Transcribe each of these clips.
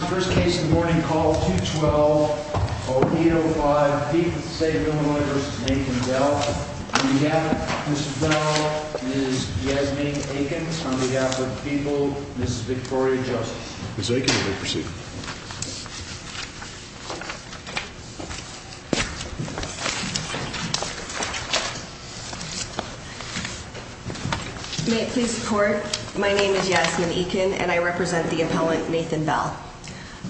First case in the morning, call 2-12-0805. Pete with the State of Illinois v. Nathan Bell. On behalf of Mrs. Bell, Ms. Yasmin Eakin. On behalf of the people, Mrs. Victoria Joseph. Ms. Eakin, you may proceed. May it please the court, my name is Yasmin Eakin, and I represent the appellant, Nathan Bell.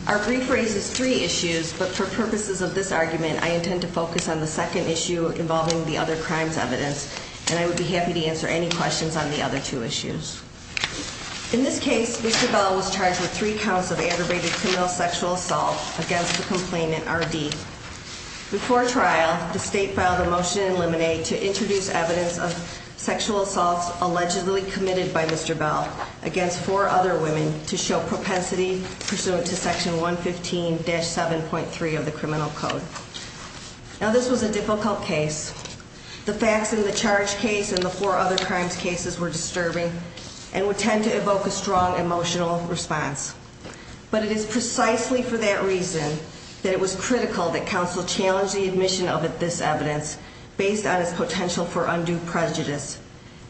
Our brief raises three issues, but for purposes of this argument, I intend to focus on the second issue involving the other crimes evidence, and I would be happy to answer any questions on the other two issues. In this case, Mr. Bell was charged with three counts of aggravated criminal sexual assault against the complainant, R.D. Before trial, the State filed a motion in Lemonade to introduce evidence of sexual assaults against four other women to show propensity pursuant to Section 115-7.3 of the Criminal Code. Now, this was a difficult case. The facts in the charge case and the four other crimes cases were disturbing and would tend to evoke a strong emotional response. But it is precisely for that reason that it was critical that counsel challenge the admission of this evidence based on its potential for undue prejudice.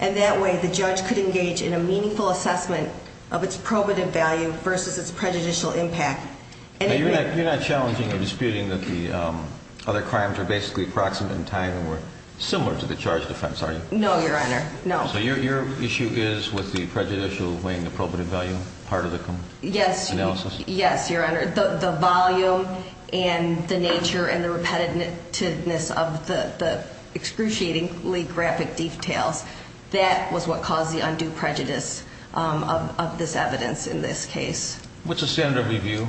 And that way, the judge could engage in a meaningful assessment of its probative value versus its prejudicial impact. Now, you're not challenging or disputing that the other crimes are basically approximate in time and were similar to the charge defense, are you? No, Your Honor, no. So your issue is with the prejudicial weighing the probative value part of the analysis? Yes, Your Honor. The volume and the nature and the repetitiveness of the excruciatingly graphic details, that was what caused the undue prejudice of this evidence in this case. What's the standard of review?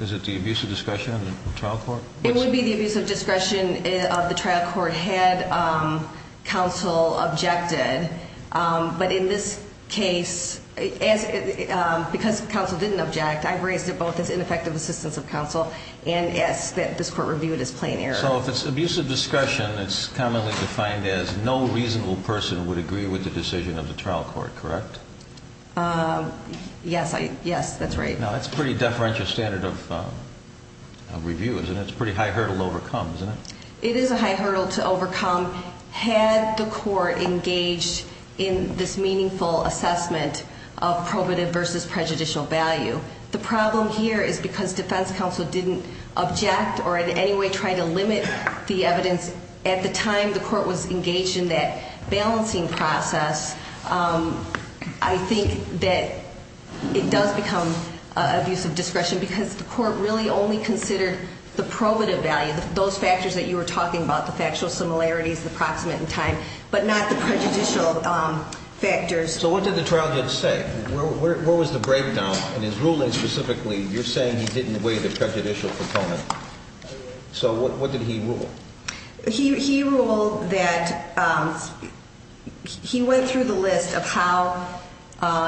Is it the abuse of discretion of the trial court? It would be the abuse of discretion of the trial court had counsel objected. But in this case, because counsel didn't object, I've raised it both as ineffective assistance of counsel and as this court reviewed as plain error. So if it's abuse of discretion, it's commonly defined as no reasonable person would agree with the decision of the trial court, correct? Yes, that's right. Now, that's a pretty deferential standard of review, isn't it? It's a pretty high hurdle to overcome, isn't it? It is a high hurdle to overcome. Had the court engaged in this meaningful assessment of probative versus prejudicial value, the problem here is because defense counsel didn't object or in any way try to limit the evidence. At the time the court was engaged in that balancing process, I think that it does become abuse of discretion because the court really only considered the probative value, those factors that you were talking about, the factual similarities, the proximate in time, but not the prejudicial factors. So what did the trial judge say? Where was the breakdown in his ruling specifically? You're saying he didn't weigh the prejudicial proponent. So what did he rule? He ruled that he went through the list of how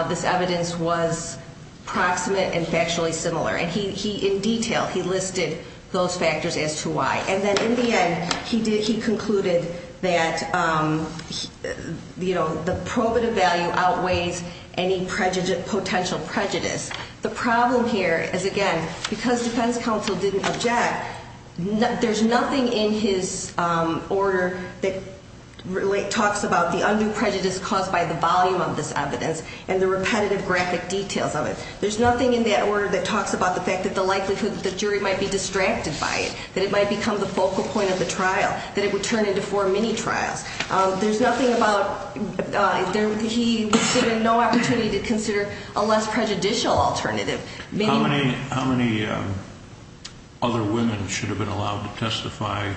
this evidence was proximate and factually similar. And in detail, he listed those factors as to why. And then in the end, he concluded that the probative value outweighs any potential prejudice. The problem here is, again, because defense counsel didn't object, there's nothing in his order that talks about the undue prejudice caused by the volume of this evidence and the repetitive graphic details of it. There's nothing in that order that talks about the fact that the likelihood that the jury might be distracted by it, that it might become the focal point of the trial, that it would turn into four mini-trials. There's nothing about he was given no opportunity to consider a less prejudicial alternative. How many other women should have been allowed to testify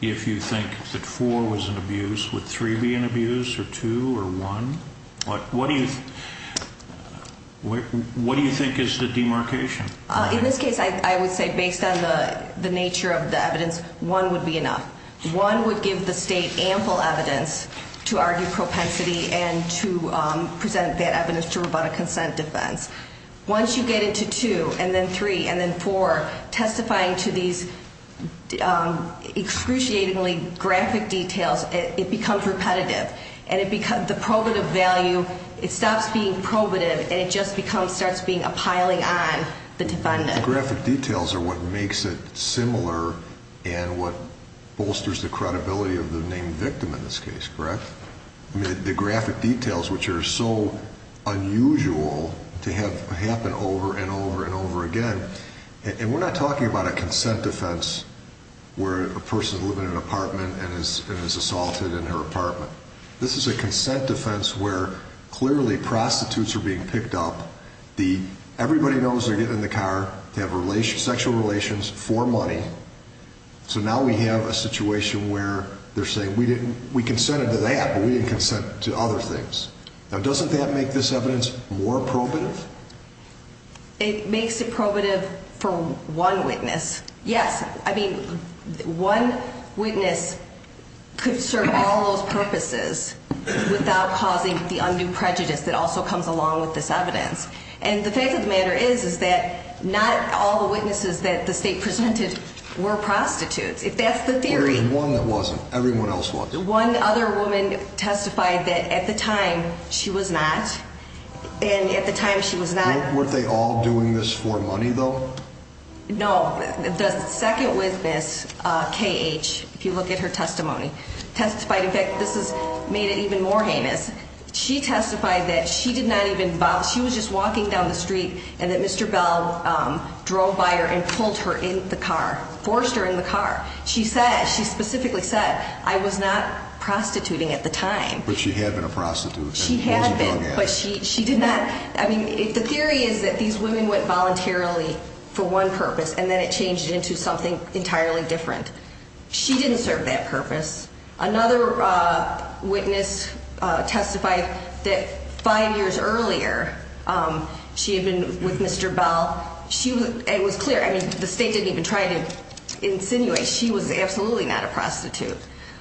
if you think that four was an abuse? Would three be an abuse, or two, or one? What do you think is the demarcation? In this case, I would say based on the nature of the evidence, one would be enough. One would give the state ample evidence to argue propensity and to present that evidence to rebut a consent defense. Once you get into two and then three and then four, testifying to these excruciatingly graphic details, it becomes repetitive. The probative value, it stops being probative and it just starts being a piling on the defendant. The graphic details are what makes it similar and what bolsters the credibility of the named victim in this case, correct? The graphic details, which are so unusual to have happen over and over and over again, and we're not talking about a consent defense where a person is living in an apartment and is assaulted in her apartment. This is a consent defense where clearly prostitutes are being picked up. Everybody knows they're getting in the car to have sexual relations for money, so now we have a situation where they're saying, we consented to that, but we didn't consent to other things. Now doesn't that make this evidence more probative? It makes it probative for one witness. Yes. I mean, one witness could serve all those purposes without causing the undue prejudice that also comes along with this evidence. And the fact of the matter is, is that not all the witnesses that the state presented were prostitutes, if that's the theory. There was one that wasn't. Everyone else wasn't. One other woman testified that at the time she was not, and at the time she was not. Weren't they all doing this for money, though? No. The second witness, KH, if you look at her testimony, testified. In fact, this has made it even more heinous. She testified that she did not even bother. She was just walking down the street and that Mr. Bell drove by her and pulled her in the car, forced her in the car. She said, she specifically said, I was not prostituting at the time. But she had been a prostitute. She had been, but she did not. I mean, the theory is that these women went voluntarily for one purpose and then it changed into something entirely different. She didn't serve that purpose. Another witness testified that five years earlier she had been with Mr. Bell. It was clear. I mean, the state didn't even try to insinuate she was absolutely not a prostitute.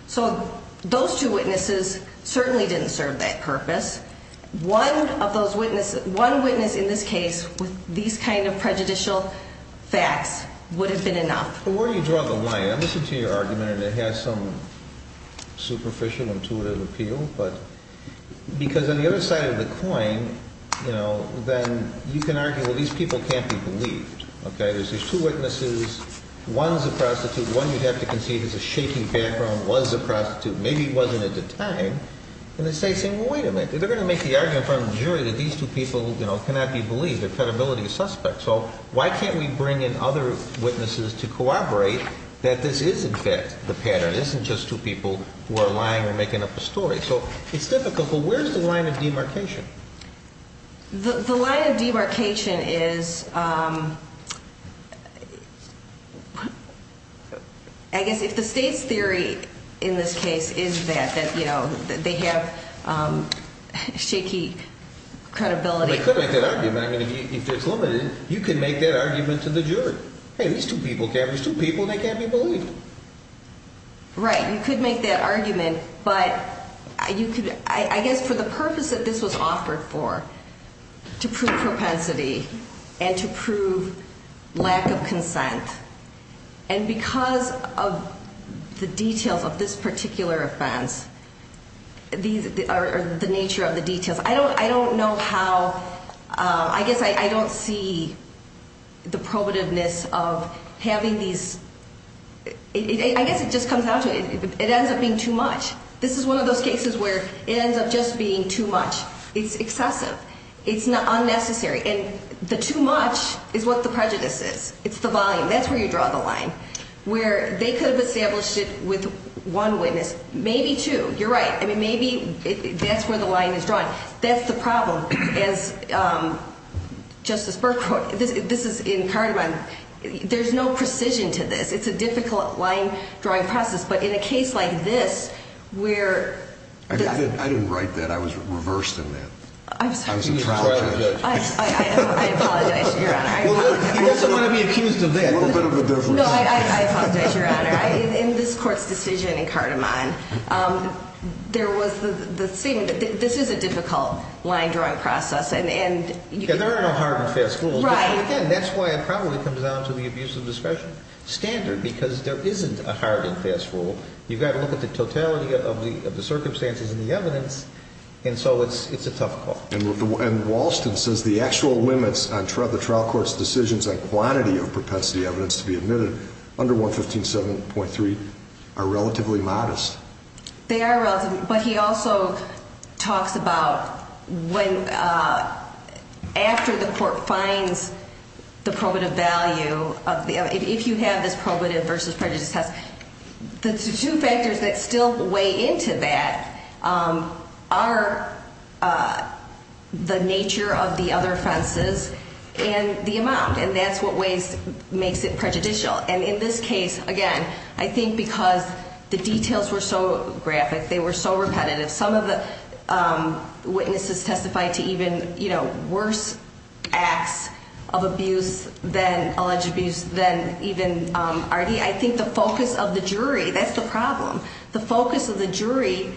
So those two witnesses certainly didn't serve that purpose. One of those witnesses, one witness in this case with these kind of prejudicial facts would have been enough. But where do you draw the line? I'm listening to your argument, and it has some superficial, intuitive appeal. Because on the other side of the coin, you know, then you can argue, well, these people can't be believed. Okay. There's two witnesses. One's a prostitute. One you'd have to concede has a shaky background, was a prostitute. Maybe he wasn't at the time. And the state's saying, well, wait a minute. They're going to make the argument in front of the jury that these two people, you know, cannot be believed. Their credibility is suspect. So why can't we bring in other witnesses to corroborate that this is, in fact, the pattern? It isn't just two people who are lying or making up a story. So it's difficult. But where's the line of demarcation? The line of demarcation is, I guess if the state's theory in this case is that, you know, they have shaky credibility. Well, they could make that argument. I mean, if it's limited, you can make that argument to the jury. Hey, these two people can't be believed. Right. You could make that argument. But I guess for the purpose that this was offered for, to prove propensity and to prove lack of consent, and because of the details of this particular offense, the nature of the details, I don't know how, I guess I don't see the probativeness of having these, I guess it just comes down to it. It ends up being too much. This is one of those cases where it ends up just being too much. It's excessive. It's unnecessary. And the too much is what the prejudice is. It's the volume. That's where you draw the line. Where they could have established it with one witness, maybe two. You're right. I mean, maybe that's where the line is drawn. That's the problem. As Justice Burke wrote, this is in Cardamom. There's no precision to this. It's a difficult line drawing process. But in a case like this where the – I didn't write that. I was reversed in that. I was a trial judge. I apologize, Your Honor. He doesn't want to be accused of that. A little bit of a difference. No, I apologize, Your Honor. In this court's decision in Cardamom, there was the – this is a difficult line drawing process. Yeah, there are no hard and fast rules. Right. Again, that's why it probably comes down to the abuse of discretion standard because there isn't a hard and fast rule. You've got to look at the totality of the circumstances and the evidence, and so it's a tough call. And Walston says the actual limits on the trial court's decisions on quantity of propensity evidence to be admitted under 115.7.3 are relatively modest. They are relative. But he also talks about when – after the court finds the probative value of the – if you have this probative versus prejudice test, the two factors that still weigh into that are the nature of the other offenses and the amount, and that's what makes it prejudicial. And in this case, again, I think because the details were so graphic, they were so repetitive, some of the witnesses testified to even worse acts of abuse than – alleged abuse than even Artie. I think the focus of the jury – that's the problem. The focus of the jury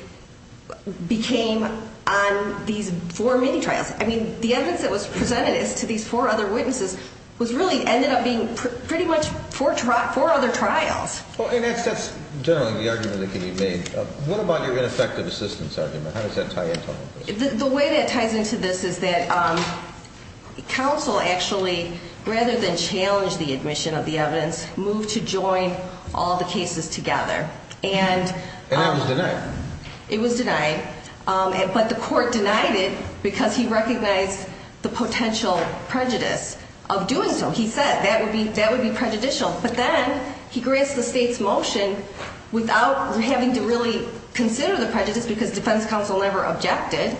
became on these four mini-trials. I mean, the evidence that was presented to these four other witnesses really ended up being pretty much four other trials. Well, and that's generally the argument that can be made. What about your ineffective assistance argument? How does that tie into all of this? The way that ties into this is that counsel actually, rather than challenge the admission of the evidence, moved to join all the cases together. And that was denied. It was denied. But the court denied it because he recognized the potential prejudice of doing so. He said that would be prejudicial. But then he grants the state's motion without having to really consider the prejudice because defense counsel never objected,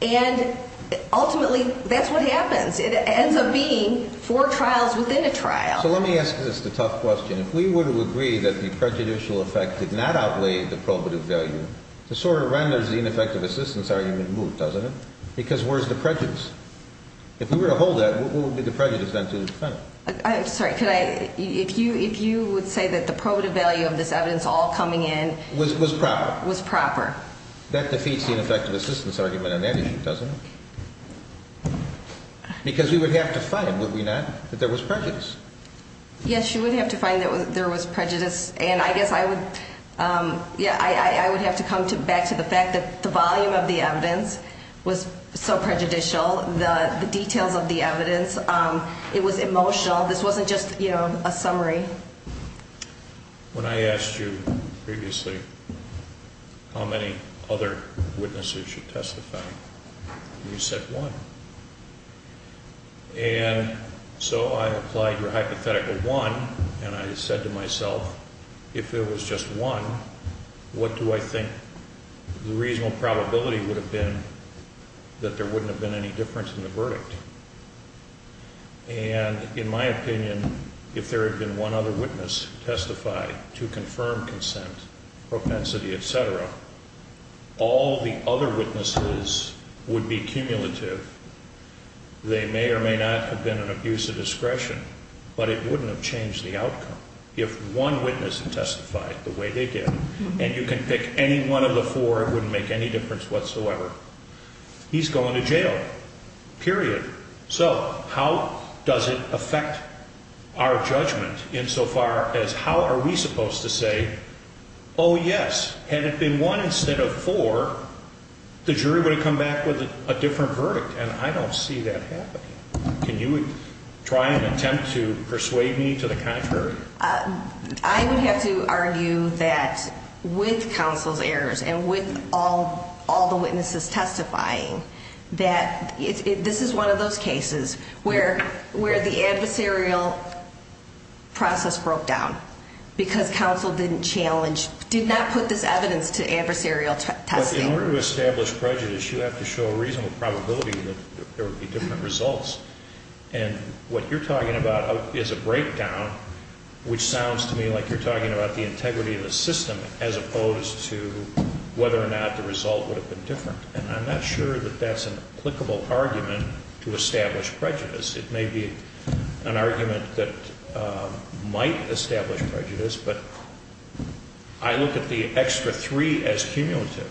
and ultimately that's what happens. It ends up being four trials within a trial. So let me ask this, the tough question. If we were to agree that the prejudicial effect did not outweigh the probative value, this sort of renders the ineffective assistance argument moot, doesn't it? Because where's the prejudice? If we were to hold that, what would be the prejudice then to the defendant? I'm sorry, could I? If you would say that the probative value of this evidence all coming in was proper. Was proper. That defeats the ineffective assistance argument on that issue, doesn't it? Because we would have to find, would we not, that there was prejudice. Yes, you would have to find that there was prejudice, and I guess I would have to come back to the fact that the volume of the evidence was so prejudicial. The details of the evidence, it was emotional. This wasn't just a summary. When I asked you previously how many other witnesses you testified, you said one. And so I applied your hypothetical one, and I said to myself, if it was just one, what do I think the reasonable probability would have been that there wouldn't have been any difference in the verdict? And in my opinion, if there had been one other witness testified to confirm consent, propensity, et cetera, all the other witnesses would be cumulative. They may or may not have been an abuse of discretion, but it wouldn't have changed the outcome. If one witness testified the way they did, and you can pick any one of the four, it wouldn't make any difference whatsoever. He's going to jail, period. So how does it affect our judgment insofar as how are we supposed to say, oh, yes, had it been one instead of four, the jury would have come back with a different verdict, and I don't see that happening. Can you try and attempt to persuade me to the contrary? I would have to argue that with counsel's errors and with all the witnesses testifying, that this is one of those cases where the adversarial process broke down because counsel didn't challenge, did not put this evidence to adversarial testing. But in order to establish prejudice, you have to show a reasonable probability that there would be different results. And what you're talking about is a breakdown, which sounds to me like you're talking about the integrity of the system as opposed to whether or not the result would have been different. And I'm not sure that that's an applicable argument to establish prejudice. It may be an argument that might establish prejudice, but I look at the extra three as cumulative.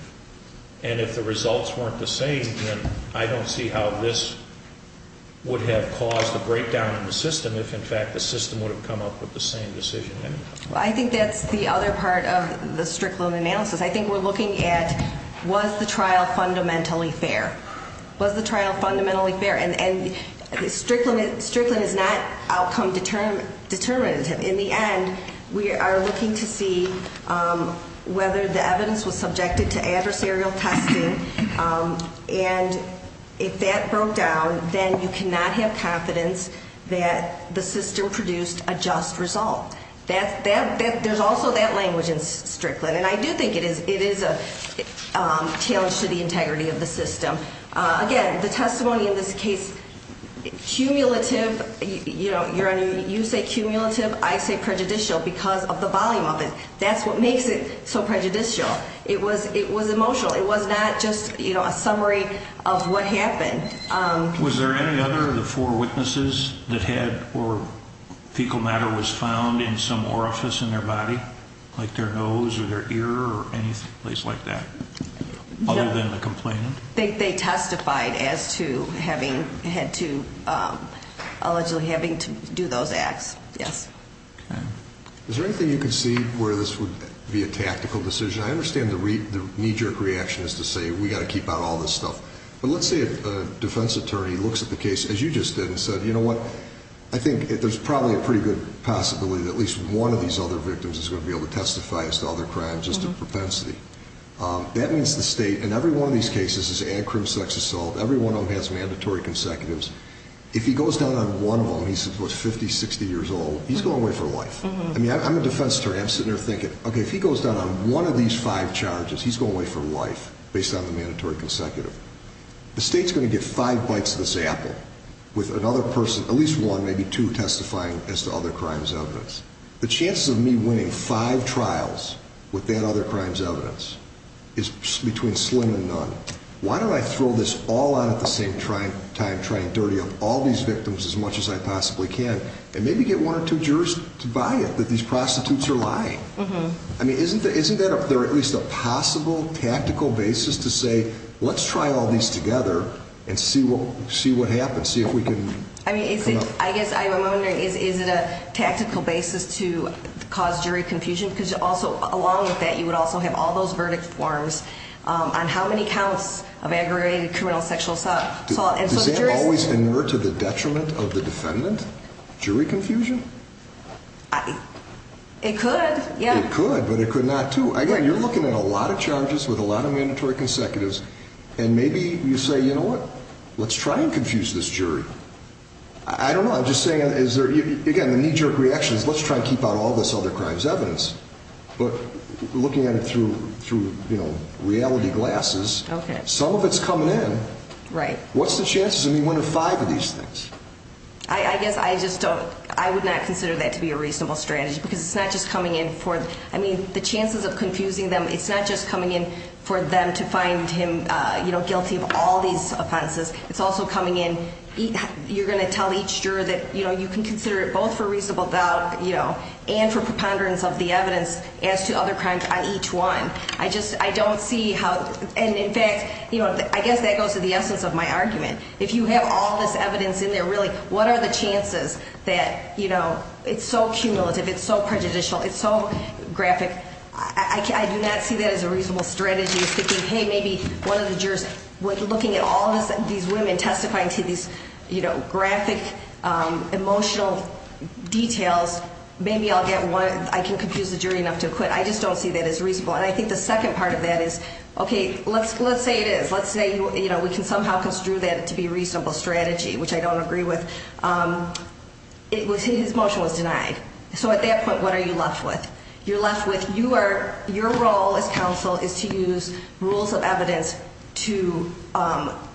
And if the results weren't the same, then I don't see how this would have caused a breakdown in the system if, in fact, the system would have come up with the same decision anyhow. Well, I think that's the other part of the strict loan analysis. I think we're looking at was the trial fundamentally fair. Was the trial fundamentally fair? And strict loan is not outcome determinative. In the end, we are looking to see whether the evidence was subjected to adversarial testing. And if that broke down, then you cannot have confidence that the system produced a just result. There's also that language in strict loan. And I do think it is a challenge to the integrity of the system. Again, the testimony in this case, cumulative, you say cumulative, I say prejudicial because of the volume of it. That's what makes it so prejudicial. It was emotional. It was not just a summary of what happened. Was there any other of the four witnesses that had or fecal matter was found in some orifice in their body, like their nose or their ear or any place like that, other than the complainant? They testified as to having had to allegedly having to do those acts, yes. Is there anything you can see where this would be a tactical decision? I understand the knee-jerk reaction is to say we've got to keep out all this stuff. But let's say a defense attorney looks at the case, as you just did, and said, you know what, I think there's probably a pretty good possibility that at least one of these other victims is going to be able to testify as to other crimes just to propensity. That means the state, and every one of these cases is an accrued sex assault. Every one of them has mandatory consecutives. If he goes down on one of them, he's, what, 50, 60 years old, he's going away for life. I mean, I'm a defense attorney. I'm sitting there thinking, okay, if he goes down on one of these five charges, he's going away for life based on the mandatory consecutive. The state's going to get five bites of this apple with another person, at least one, maybe two, testifying as to other crimes evidence. The chances of me winning five trials with that other crimes evidence is between slim and none. Why don't I throw this all out at the same time trying to dirty up all these victims as much as I possibly can and maybe get one or two jurors to buy it that these prostitutes are lying? I mean, isn't there at least a possible tactical basis to say, let's try all these together and see what happens, see if we can? I mean, I guess I'm wondering, is it a tactical basis to cause jury confusion? Because along with that, you would also have all those verdict forms on how many counts of aggravated criminal sexual assault. Does that always inert to the detriment of the defendant, jury confusion? It could, yeah. It could, but it could not, too. Again, you're looking at a lot of charges with a lot of mandatory consecutives. And maybe you say, you know what, let's try and confuse this jury. I don't know. I'm just saying, again, the knee jerk reaction is let's try and keep out all this other crimes evidence. But looking at it through reality glasses, some of it's coming in. Right. What's the chances of me winning five of these things? I guess I just don't, I would not consider that to be a reasonable strategy because it's not just coming in for, I mean, the chances of confusing them, it's not just coming in for them to find him guilty of all these offenses. It's also coming in, you're going to tell each juror that, you know, you can consider it both for reasonable doubt, you know, and for preponderance of the evidence as to other crimes on each one. I just, I don't see how, and in fact, you know, I guess that goes to the essence of my argument. If you have all this evidence in there, really, what are the chances that, you know, it's so cumulative, it's so prejudicial, it's so graphic. I do not see that as a reasonable strategy as thinking, hey, maybe one of the jurors, with looking at all these women testifying to these, you know, graphic emotional details, maybe I'll get one, I can confuse the jury enough to acquit. I just don't see that as reasonable. And I think the second part of that is, okay, let's say it is. Let's say, you know, we can somehow construe that to be a reasonable strategy, which I don't agree with. His motion was denied. So at that point, what are you left with? You're left with your role as counsel is to use rules of evidence to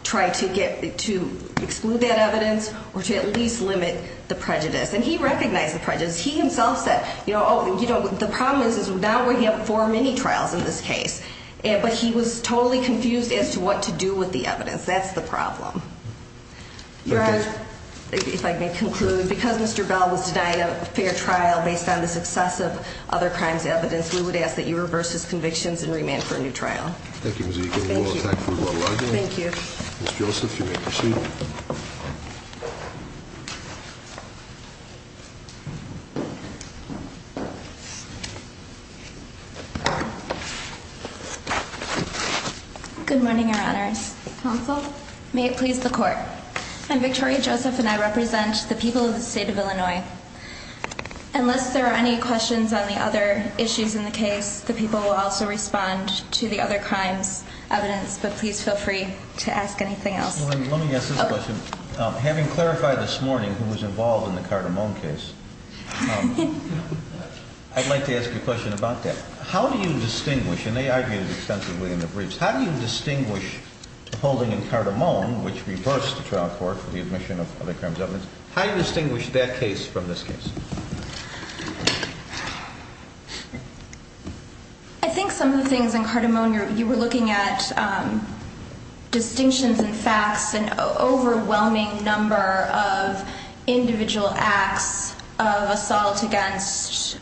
try to exclude that evidence or to at least limit the prejudice. And he recognized the prejudice. He himself said, you know, the problem is now we have four mini-trials in this case. But he was totally confused as to what to do with the evidence. That's the problem. Your Honor, if I may conclude, because Mr. Bell was denied a fair trial based on the success of other crimes evidence, we would ask that you reverse his convictions and remand for a new trial. Thank you, Ms. Eagle. Thank you. Thank you. Ms. Joseph, you may proceed. Good morning, Your Honors. Counsel. May it please the Court. I'm Victoria Joseph, and I represent the people of the state of Illinois. Unless there are any questions on the other issues in the case, the people will also respond to the other crimes evidence. But please feel free to ask anything else. Let me ask this question. Having clarified this morning who was involved in the Carter-Moan case, I'd like to ask you a question about that. How do you distinguish, and they argued it extensively in the briefs, how do you distinguish the holding in Carter-Moan, which reversed the trial court for the admission of other crimes evidence, how do you distinguish that case from this case? I think some of the things in Carter-Moan, you were looking at distinctions in facts and overwhelming number of individual acts of assault against,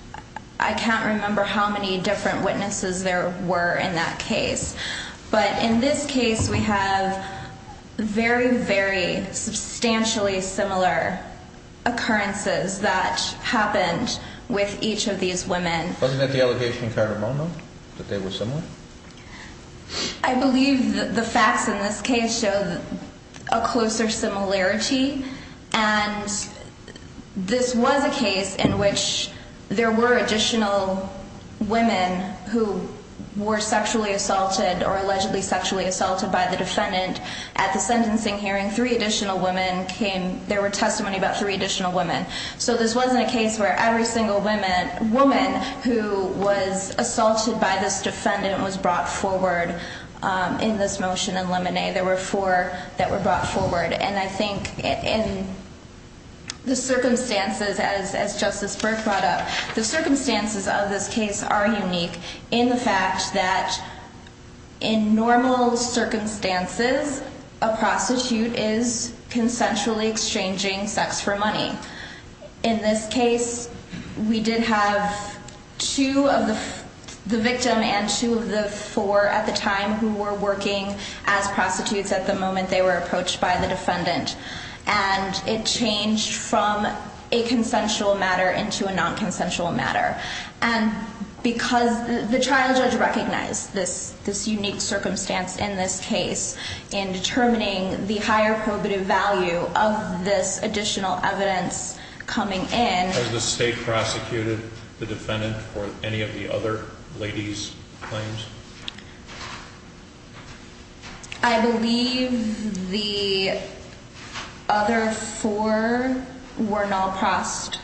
I can't remember how many different witnesses there were in that case. But in this case, we have very, very substantially similar occurrences that happened with each of these women. Wasn't that the allegation in Carter-Moan, though, that they were similar? I believe the facts in this case show a closer similarity. And this was a case in which there were additional women who were sexually assaulted or allegedly sexually assaulted by the defendant. At the sentencing hearing, three additional women came, there were testimony about three additional women. So this wasn't a case where every single woman who was assaulted by this defendant was brought forward in this motion in Lemon-A. There were four that were brought forward. And I think in the circumstances, as Justice Burke brought up, the circumstances of this case are unique in the fact that in normal circumstances, a prostitute is consensually exchanging sex for money. In this case, we did have two of the victim and two of the four at the time who were working as prostitutes at the moment they were approached by the defendant. And it changed from a consensual matter into a non-consensual matter. And because the trial judge recognized this unique circumstance in this case in determining the higher probative value of this additional evidence coming in. Has the state prosecuted the defendant for any of the other ladies' claims? I believe the other four were not prost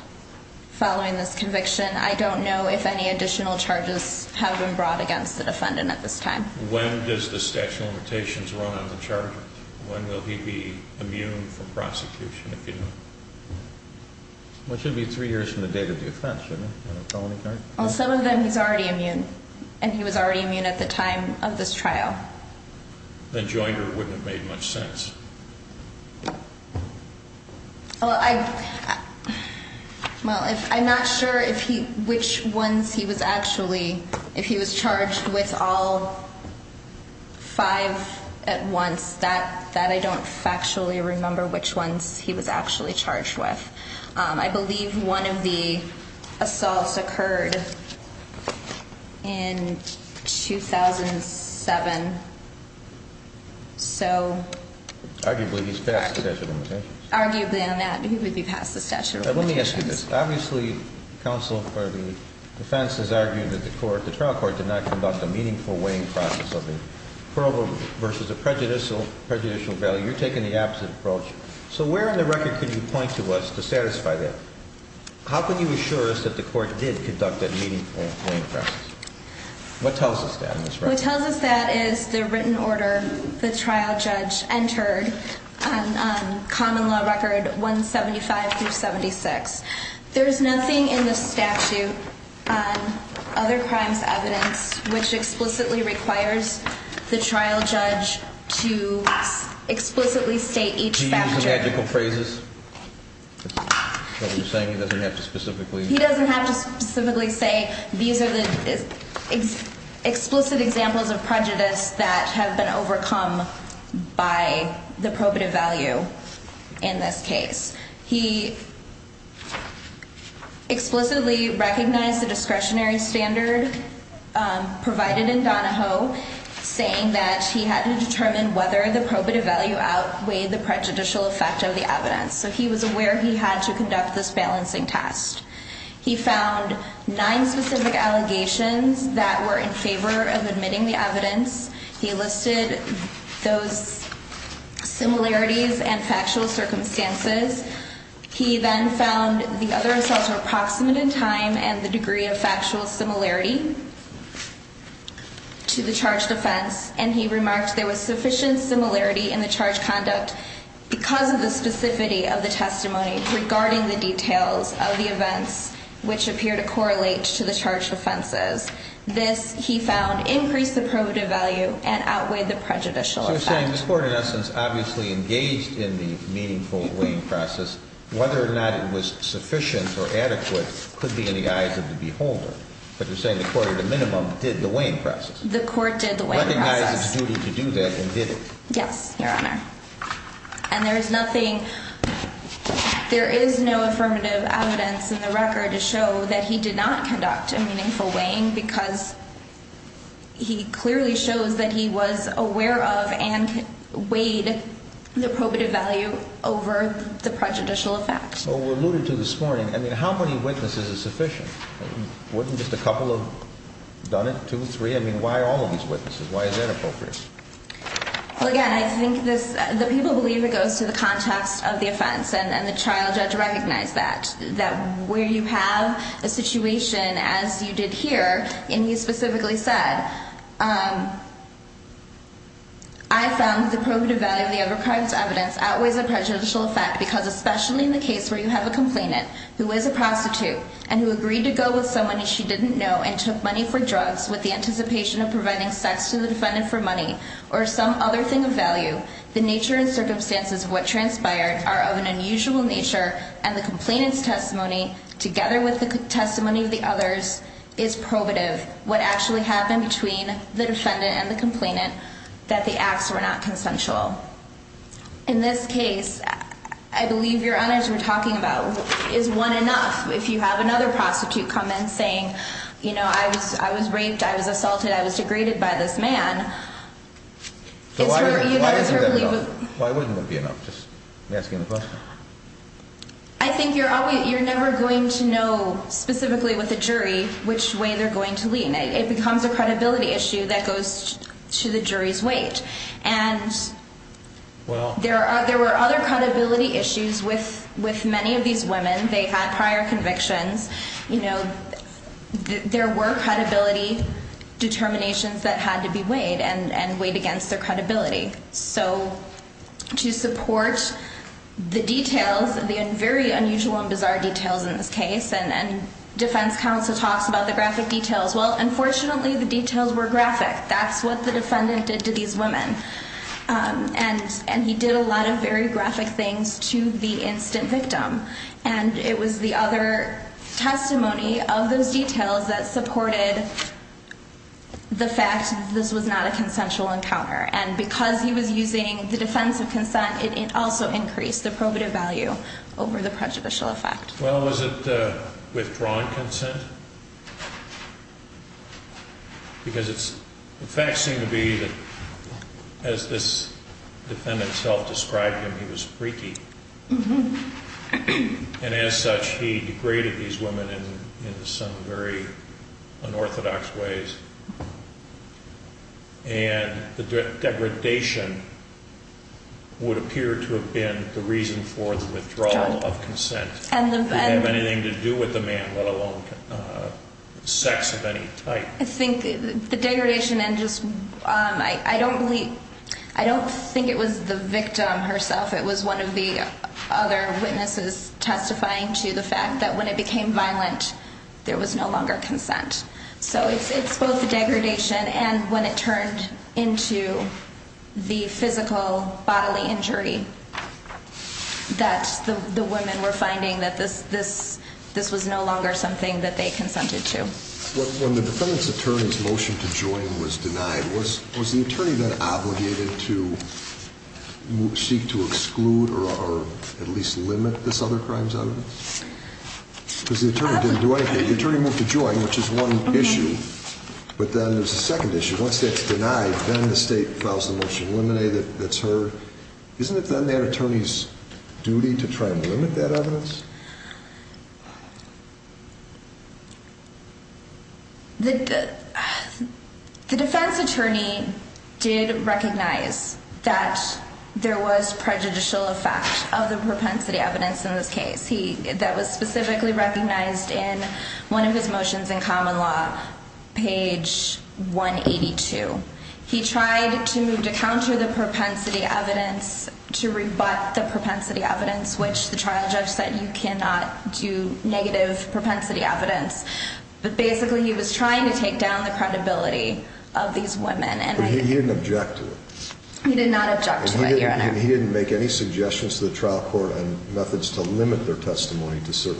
following this conviction. I don't know if any additional charges have been brought against the defendant at this time. When does the statute of limitations run on the charge? When will he be immune from prosecution, if you know? It should be three years from the date of the offense, shouldn't it? Well, some of them he's already immune. And he was already immune at the time of this trial. Then Joinder wouldn't have made much sense. Well, I'm not sure which ones he was actually, if he was charged with all five at once. That I don't factually remember which ones he was actually charged with. I believe one of the assaults occurred in 2007. Arguably, he's passed the statute of limitations. Arguably on that, he would be passed the statute of limitations. Let me ask you this. Obviously, counsel for the defense has argued that the trial court did not conduct a meaningful weighing process of a probative versus a prejudicial value. You're taking the opposite approach. So where in the record could you point to us to satisfy that? How can you assure us that the court did conduct a meaningful weighing process? What tells us that in this record? What tells us that is the written order the trial judge entered on common law record 175 through 76. There's nothing in the statute on other crimes evidence which explicitly requires the trial judge to explicitly state each factor. Do you use the magical phrases? That's what we're saying. He doesn't have to specifically. He doesn't have to specifically say these are the explicit examples of prejudice that have been overcome by the probative value in this case. He explicitly recognized the discretionary standard provided in Donahoe, saying that he had to determine whether the probative value outweighed the prejudicial effect of the evidence. So he was aware he had to conduct this balancing test. He found nine specific allegations that were in favor of admitting the evidence. He listed those similarities and factual circumstances. He then found the other assaults were approximate in time and the degree of factual similarity to the charged offense. And he remarked there was sufficient similarity in the charged conduct because of the specificity of the testimony regarding the details of the events which appear to correlate to the charged offenses. This, he found, increased the probative value and outweighed the prejudicial effect. So you're saying this Court, in essence, obviously engaged in the meaningful weighing process. Whether or not it was sufficient or adequate could be in the eyes of the beholder. But you're saying the Court, at a minimum, did the weighing process. The Court did the weighing process. Recognized its duty to do that and did it. Yes, Your Honor. And there is nothing – there is no affirmative evidence in the record to show that he did not conduct a meaningful weighing because he clearly shows that he was aware of and weighed the probative value over the prejudicial effect. So we alluded to this morning. I mean, how many witnesses is sufficient? Wouldn't just a couple have done it? Two, three? I mean, why all of these witnesses? Why is that appropriate? Well, again, I think this – the people believe it goes to the context of the offense. And the trial judge recognized that. That where you have a situation, as you did here, and you specifically said, I found the probative value of the other crime's evidence outweighs the prejudicial effect because especially in the case where you have a complainant who is a prostitute and who agreed to go with someone she didn't know and took money for drugs with the anticipation of providing sex to the defendant for money or some other thing of value, the nature and circumstances of what transpired are of an unusual nature and the complainant's testimony, together with the testimony of the others, is probative. What actually happened between the defendant and the complainant, that the acts were not consensual. In this case, I believe Your Honor, as you were talking about, is one enough. If you have another prostitute come in saying, you know, I was raped, I was assaulted, I was degraded by this man. So why isn't that enough? Why wouldn't it be enough? Just asking the question. I think you're never going to know specifically with a jury which way they're going to lean. It becomes a credibility issue that goes to the jury's weight. And there were other credibility issues with many of these women. They had prior convictions. You know, there were credibility determinations that had to be weighed and weighed against their credibility. So to support the details, the very unusual and bizarre details in this case, and defense counsel talks about the graphic details. Well, unfortunately, the details were graphic. That's what the defendant did to these women. And he did a lot of very graphic things to the instant victim. And it was the other testimony of those details that supported the fact that this was not a consensual encounter. And because he was using the defense of consent, it also increased the probative value over the prejudicial effect. Well, was it withdrawn consent? Because the facts seem to be that as this defendant himself described him, he was freaky. And as such, he degraded these women in some very unorthodox ways. And the degradation would appear to have been the reason for the withdrawal of consent. It didn't have anything to do with the man, let alone sex of any type. I think the degradation and just, I don't believe, I don't think it was the victim herself. It was one of the other witnesses testifying to the fact that when it became violent, there was no longer consent. So it's both the degradation and when it turned into the physical bodily injury that the women were finding that this was no longer something that they consented to. When the defendant's attorney's motion to join was denied, was the attorney then obligated to seek to exclude or at least limit this other crime's evidence? Because the attorney didn't do anything. The attorney moved to join, which is one issue. But then there's a second issue. Once that's denied, then the state files the motion to eliminate it. Isn't it then their attorney's duty to try and limit that evidence? The defense attorney did recognize that there was prejudicial effect of the propensity evidence in this case that was specifically recognized in one of his motions in common law, page 182. He tried to move to counter the propensity evidence, to rebut the propensity evidence, which the trial judge said you cannot do negative propensity evidence. But basically he was trying to take down the credibility of these women. But he didn't object to it. And he didn't make any suggestions to the trial court on methods to limit their testimony to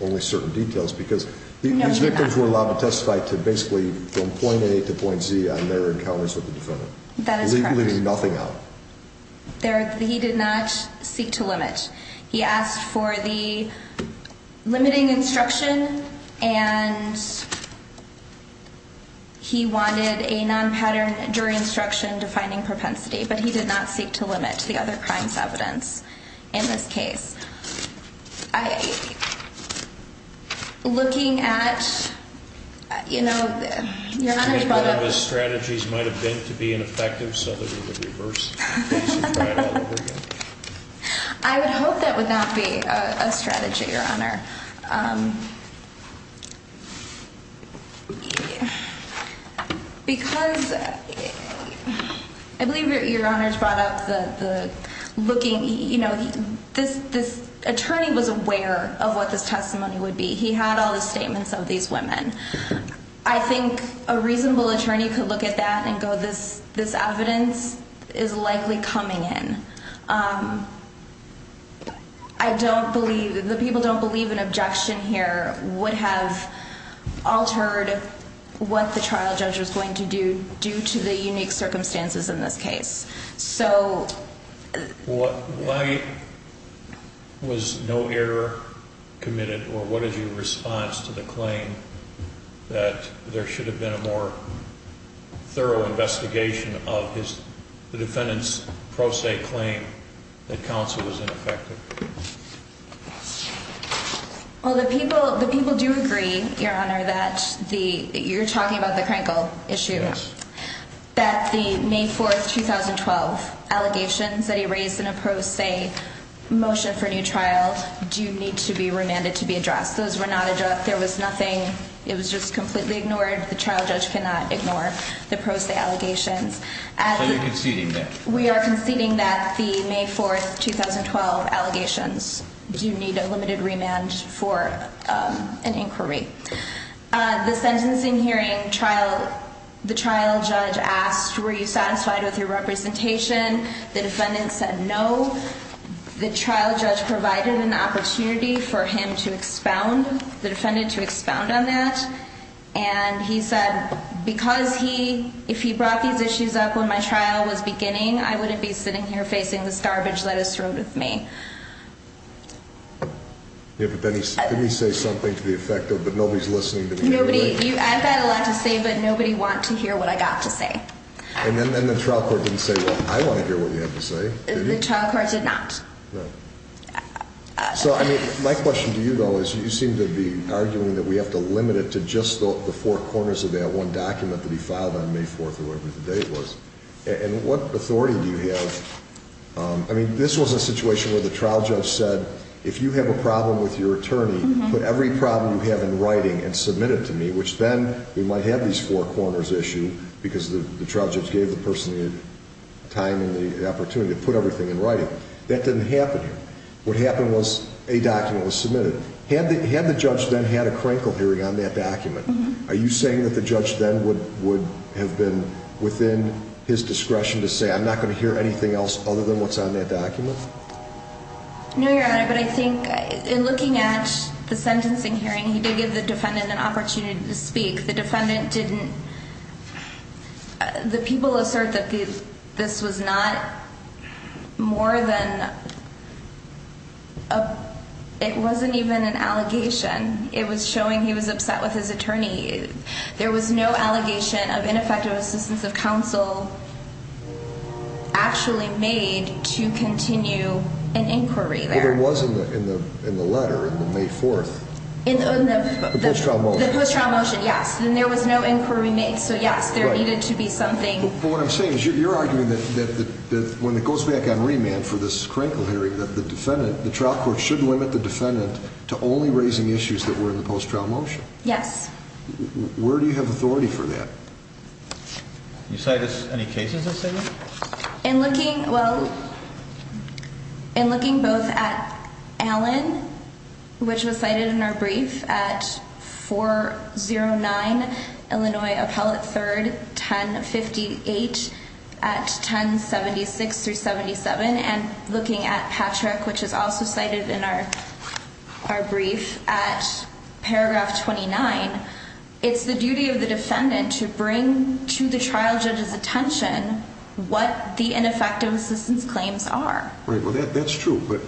only certain details because these victims were allowed to testify to basically from point A to point Z on their encounters with the defendant. That is correct. Leaving nothing out. He did not seek to limit. He asked for the limiting instruction and he wanted a non-pattern jury instruction defining propensity. But he did not seek to limit the other crimes evidence in this case. Looking at, you know, your strategies might have been to be ineffective so that we would reverse. I would hope that would not be a strategy, Your Honor. Because I believe Your Honor has brought up the looking, you know, this attorney was aware of what this testimony would be. He had all the statements of these women. I think a reasonable attorney could look at that and go this evidence is likely coming in. I don't believe, the people don't believe an objection here would have altered what the trial judge was going to do due to the unique circumstances in this case. Why was no error committed or what is your response to the claim that there should have been a more thorough investigation of the defendant's pro se claim that counsel was ineffective? Well, the people do agree, Your Honor, that you're talking about the Krenkel issue. That the May 4, 2012 allegations that he raised in a pro se motion for a new trial do need to be remanded to be addressed. Those were not addressed. There was nothing. It was just completely ignored. The trial judge cannot ignore the pro se allegations. So you're conceding that? That the May 4, 2012 allegations do need a limited remand for an inquiry. The sentencing hearing trial, the trial judge asked, were you satisfied with your representation? The defendant said no. The trial judge provided an opportunity for him to expound, the defendant to expound on that. And he said, because he, if he brought these issues up when my trial was beginning, I wouldn't be sitting here facing this garbage that is thrown at me. Yeah, but didn't he say something to the effect of, but nobody's listening to me anyway? Nobody, I've got a lot to say, but nobody want to hear what I got to say. And then the trial court didn't say, well, I want to hear what you have to say. The trial court did not. No. So, I mean, my question to you, though, is you seem to be arguing that we have to limit it to just the four corners of that one document that he filed on May 4th or whatever the date was. And what authority do you have? I mean, this was a situation where the trial judge said, if you have a problem with your attorney, put every problem you have in writing and submit it to me, which then we might have these four corners issued because the trial judge gave the person the time and the opportunity to put everything in writing. That didn't happen here. What happened was a document was submitted. Had the judge then had a crankle hearing on that document, are you saying that the judge then would have been within his discretion to say, I'm not going to hear anything else other than what's on that document? No, Your Honor, but I think in looking at the sentencing hearing, he did give the defendant an opportunity to speak. The defendant didn't. The people assert that this was not more than. It wasn't even an allegation. It was showing he was upset with his attorney. There was no allegation of ineffective assistance of counsel actually made to continue an inquiry. There wasn't in the in the letter in the May 4th in the post trial motion. Yes. And there was no inquiry made. So, yes, there needed to be something. But what I'm saying is you're arguing that when it goes back on remand for this crankle hearing, that the defendant, the trial court should limit the defendant to only raising issues that were in the post trial motion. Yes. Where do you have authority for that? You say this. In looking. Well, in looking both at Allen, which was cited in our brief at 4 0 9, Illinois Appellate 3rd 10 58 at 10 76 through 77 and looking at Patrick, which is also cited in our our brief at paragraph 29. It's the duty of the defendant to bring to the trial judge's attention what the ineffective assistance claims are. Right. Well, that's true. But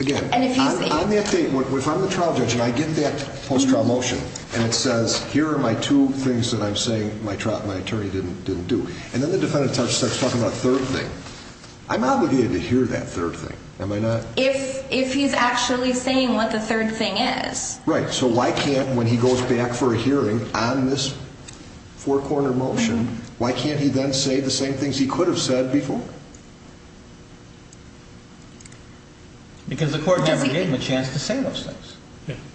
again, if I'm the trial judge and I get that post trial motion and it says here are my two things that I'm saying my trial, my attorney didn't didn't do. And then the defendant starts talking about third thing. I'm obligated to hear that third thing. Am I not? If if he's actually saying what the third thing is. Right. So why can't when he goes back for a hearing on this? Four corner motion. Why can't he then say the same things he could have said before? Because the court never gave him a chance to say those things.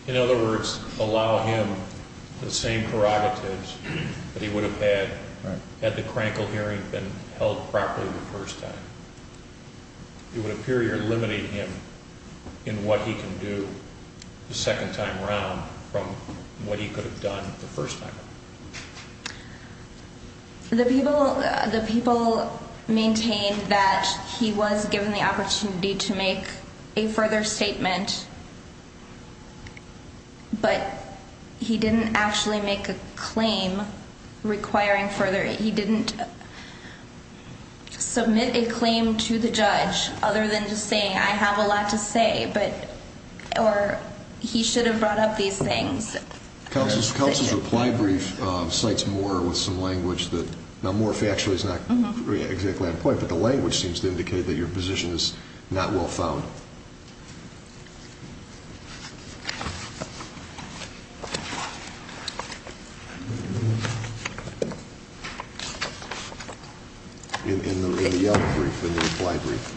In other words, allow him the same prerogatives that he would have had had the crankle hearing been held properly the first time. It would appear you're limiting him in what he can do the second time around from what he could have done the first time. The people, the people maintained that he was given the opportunity to make a further statement. But he didn't actually make a claim requiring further. He didn't submit a claim to the judge other than just saying I have a lot to say. But or he should have brought up these things. Counsel's counsel's reply brief cites more with some language that now more factually is not exactly on point. But the language seems to indicate that your position is not well found. In the reply brief.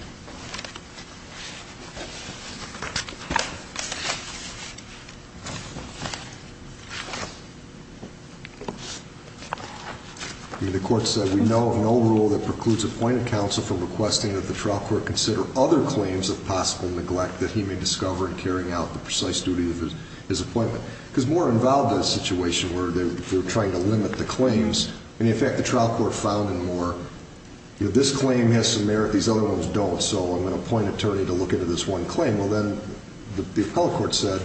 The court said we know of no rule that precludes appointed counsel from requesting that the trial court consider other claims of possible neglect that he may discover in carrying out the precise duty of his appointment. Because more involved in a situation where they're trying to limit the claims. And in fact, the trial court found in more. This claim has some merit. These other ones don't. So I'm going to point attorney to look into this one claim. Well, then the appellate court said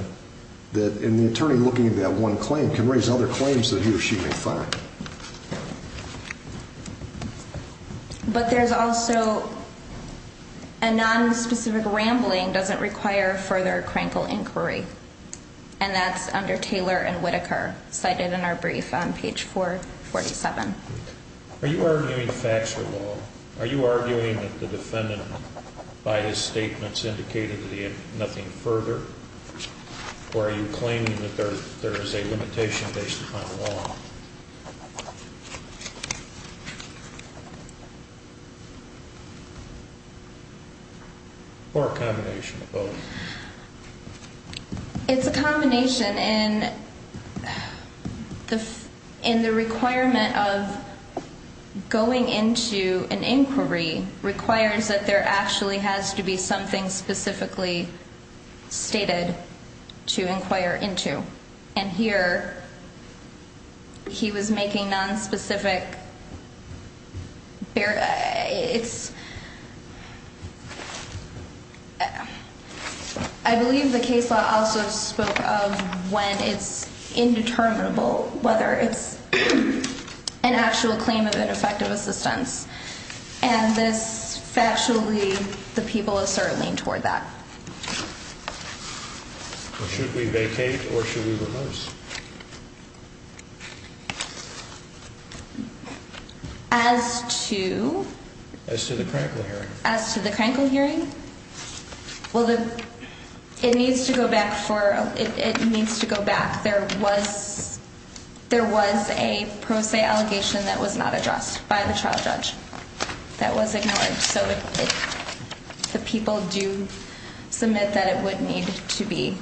that in the attorney looking at that one claim can raise other claims that he or she may find. But there's also a non specific rambling doesn't require further crankle inquiry. And that's under Taylor and Whitaker cited in our brief on page 4. 47. Are you arguing fax? Are you arguing that the defendant by his statements indicated the nothing further? Or are you claiming that there's there's a limitation based upon law? Or a combination of both. It's a combination in the in the requirement of going into an inquiry requires that there actually has to be something specifically stated to inquire into. And here. He was making non specific. It's. I believe the case law also spoke of when it's indeterminable whether it's an actual claim of ineffective assistance. And this factually, the people are certainly toward that. Should we vacate or should we reverse? As to. As to the crankle hearing. As to the crankle hearing. Well, the. It needs to go back for it needs to go back. There was. There was a pro se allegation that was not addressed by the trial judge. That was ignored. So. The people do submit that it would need to be.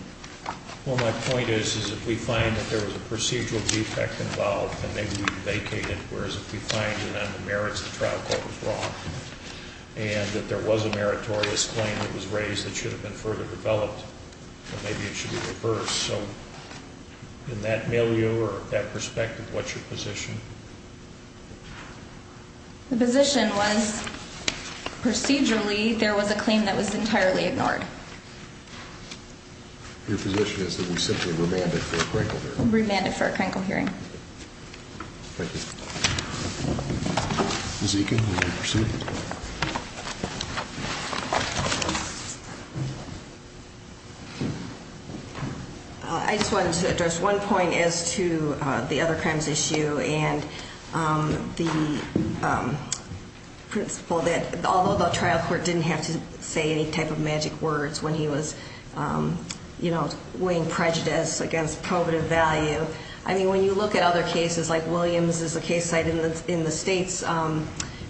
Well, my point is, is if we find that there was a procedural defect involved and they vacated, whereas if we find that on the merits of the trial court was wrong. And that there was a meritorious claim that was raised that should have been further developed. Maybe it should be reversed. So. In that milieu or that perspective, what's your position? The position was. Procedurally, there was a claim that was entirely ignored. Your position is that we simply remanded for a crankle remanded for a crankle hearing. Thank you. Zika. See. I just wanted to address one point as to the other crimes issue and the. Principle that although the trial court didn't have to say any type of magic words when he was. You know, weighing prejudice against probative value. I mean, when you look at other cases like Williams is a case cited in the state's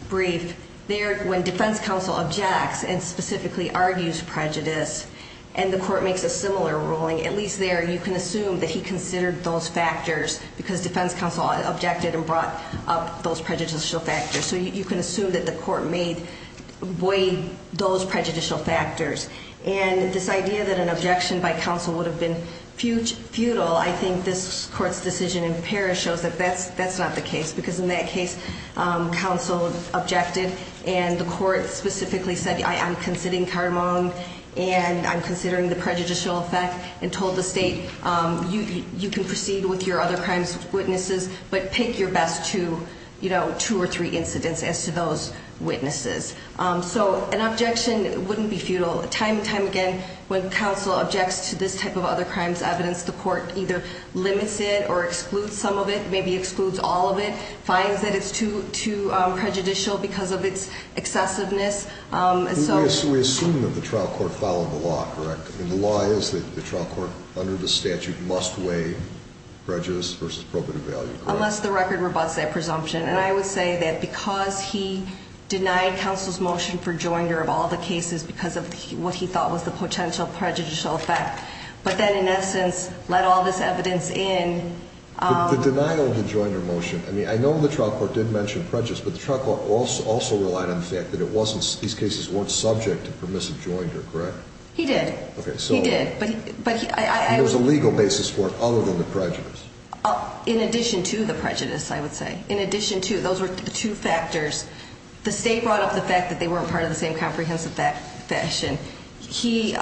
brief there when defense counsel objects and specifically argues prejudice. And the court makes a similar ruling, at least there you can assume that he considered those factors because defense counsel objected and brought up those prejudicial factors. So you can assume that the court made way those prejudicial factors. And this idea that an objection by counsel would have been futile. I think this court's decision in Paris shows that that's not the case. Because in that case, counsel objected. And the court specifically said, I am considering cardamom and I'm considering the prejudicial effect. And told the state, you can proceed with your other crimes witnesses. But pick your best two or three incidents as to those witnesses. So an objection wouldn't be futile. Time and time again, when counsel objects to this type of other crimes evidence, the court either limits it or excludes some of it. Maybe excludes all of it. Finds that it's too prejudicial because of its excessiveness. We assume that the trial court followed the law, correct? And the law is that the trial court under the statute must weigh prejudice versus probative value, correct? Unless the record rebuts that presumption. And I would say that because he denied counsel's motion for joinder of all the cases because of what he thought was the potential prejudicial effect. But then in essence, let all this evidence in. The denial of the joinder motion. I mean, I know the trial court did mention prejudice. But the trial court also relied on the fact that it wasn't, these cases weren't subject to permissive joinder, correct? He did. He did. There was a legal basis for it other than the prejudice. In addition to the prejudice, I would say. In addition to, those were two factors. The state brought up the fact that they weren't part of the same comprehensive fashion. He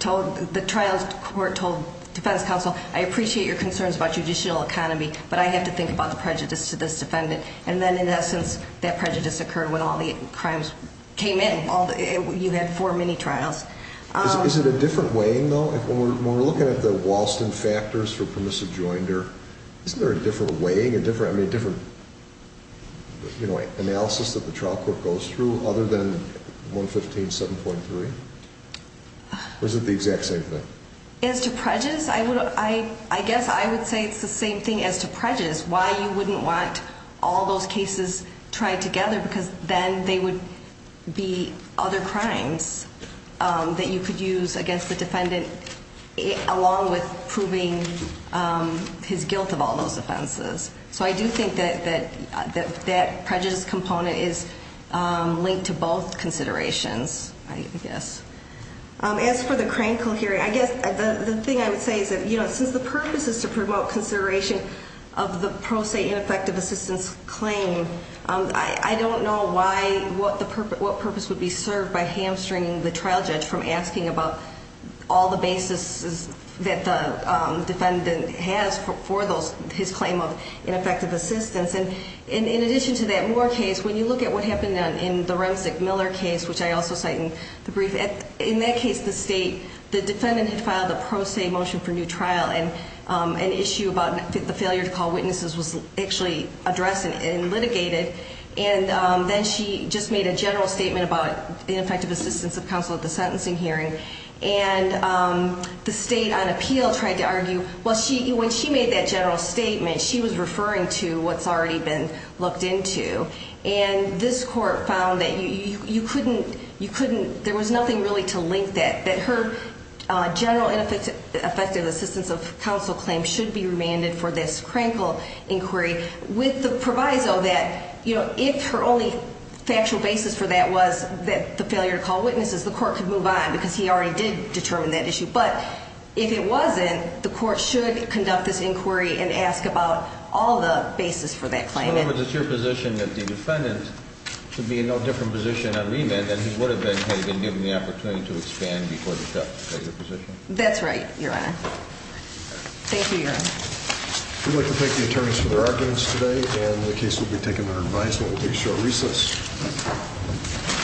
told, the trial court told defense counsel, I appreciate your concerns about judicial economy. But I have to think about the prejudice to this defendant. And then in essence, that prejudice occurred when all the crimes came in. You had four mini-trials. Is it a different weighing though? When we're looking at the Walston factors for permissive joinder, isn't there a different weighing? I mean, a different analysis that the trial court goes through other than 115, 7.3? Or is it the exact same thing? As to prejudice, I guess I would say it's the same thing as to prejudice. Why you wouldn't want all those cases tried together? Because then they would be other crimes that you could use against the defendant. Along with proving his guilt of all those offenses. So I do think that that prejudice component is linked to both considerations, I guess. As for the Crankle hearing, I guess the thing I would say is that since the purpose is to promote consideration of the pro se ineffective assistance claim. I don't know what purpose would be served by hamstringing the trial judge from asking about all the bases that the defendant has for his claim of ineffective assistance. And in addition to that Moore case, when you look at what happened in the Remzig-Miller case, which I also cite in the brief. In that case, the defendant had filed a pro se motion for new trial. And an issue about the failure to call witnesses was actually addressed and litigated. And then she just made a general statement about ineffective assistance of counsel at the sentencing hearing. And the state on appeal tried to argue, well, when she made that general statement, she was referring to what's already been looked into. And this court found that there was nothing really to link that. That her general ineffective assistance of counsel claim should be remanded for this Crankle inquiry. With the proviso that if her only factual basis for that was the failure to call witnesses, the court could move on. Because he already did determine that issue. But if it wasn't, the court should conduct this inquiry and ask about all the bases for that claim. In other words, it's your position that the defendant should be in no different position on remand than he would have been had he been given the opportunity to expand before the judge set your position? That's right, Your Honor. Thank you, Your Honor. We'd like to thank the attorneys for their arguments today. And the case will be taken under advisement. We'll take a short recess.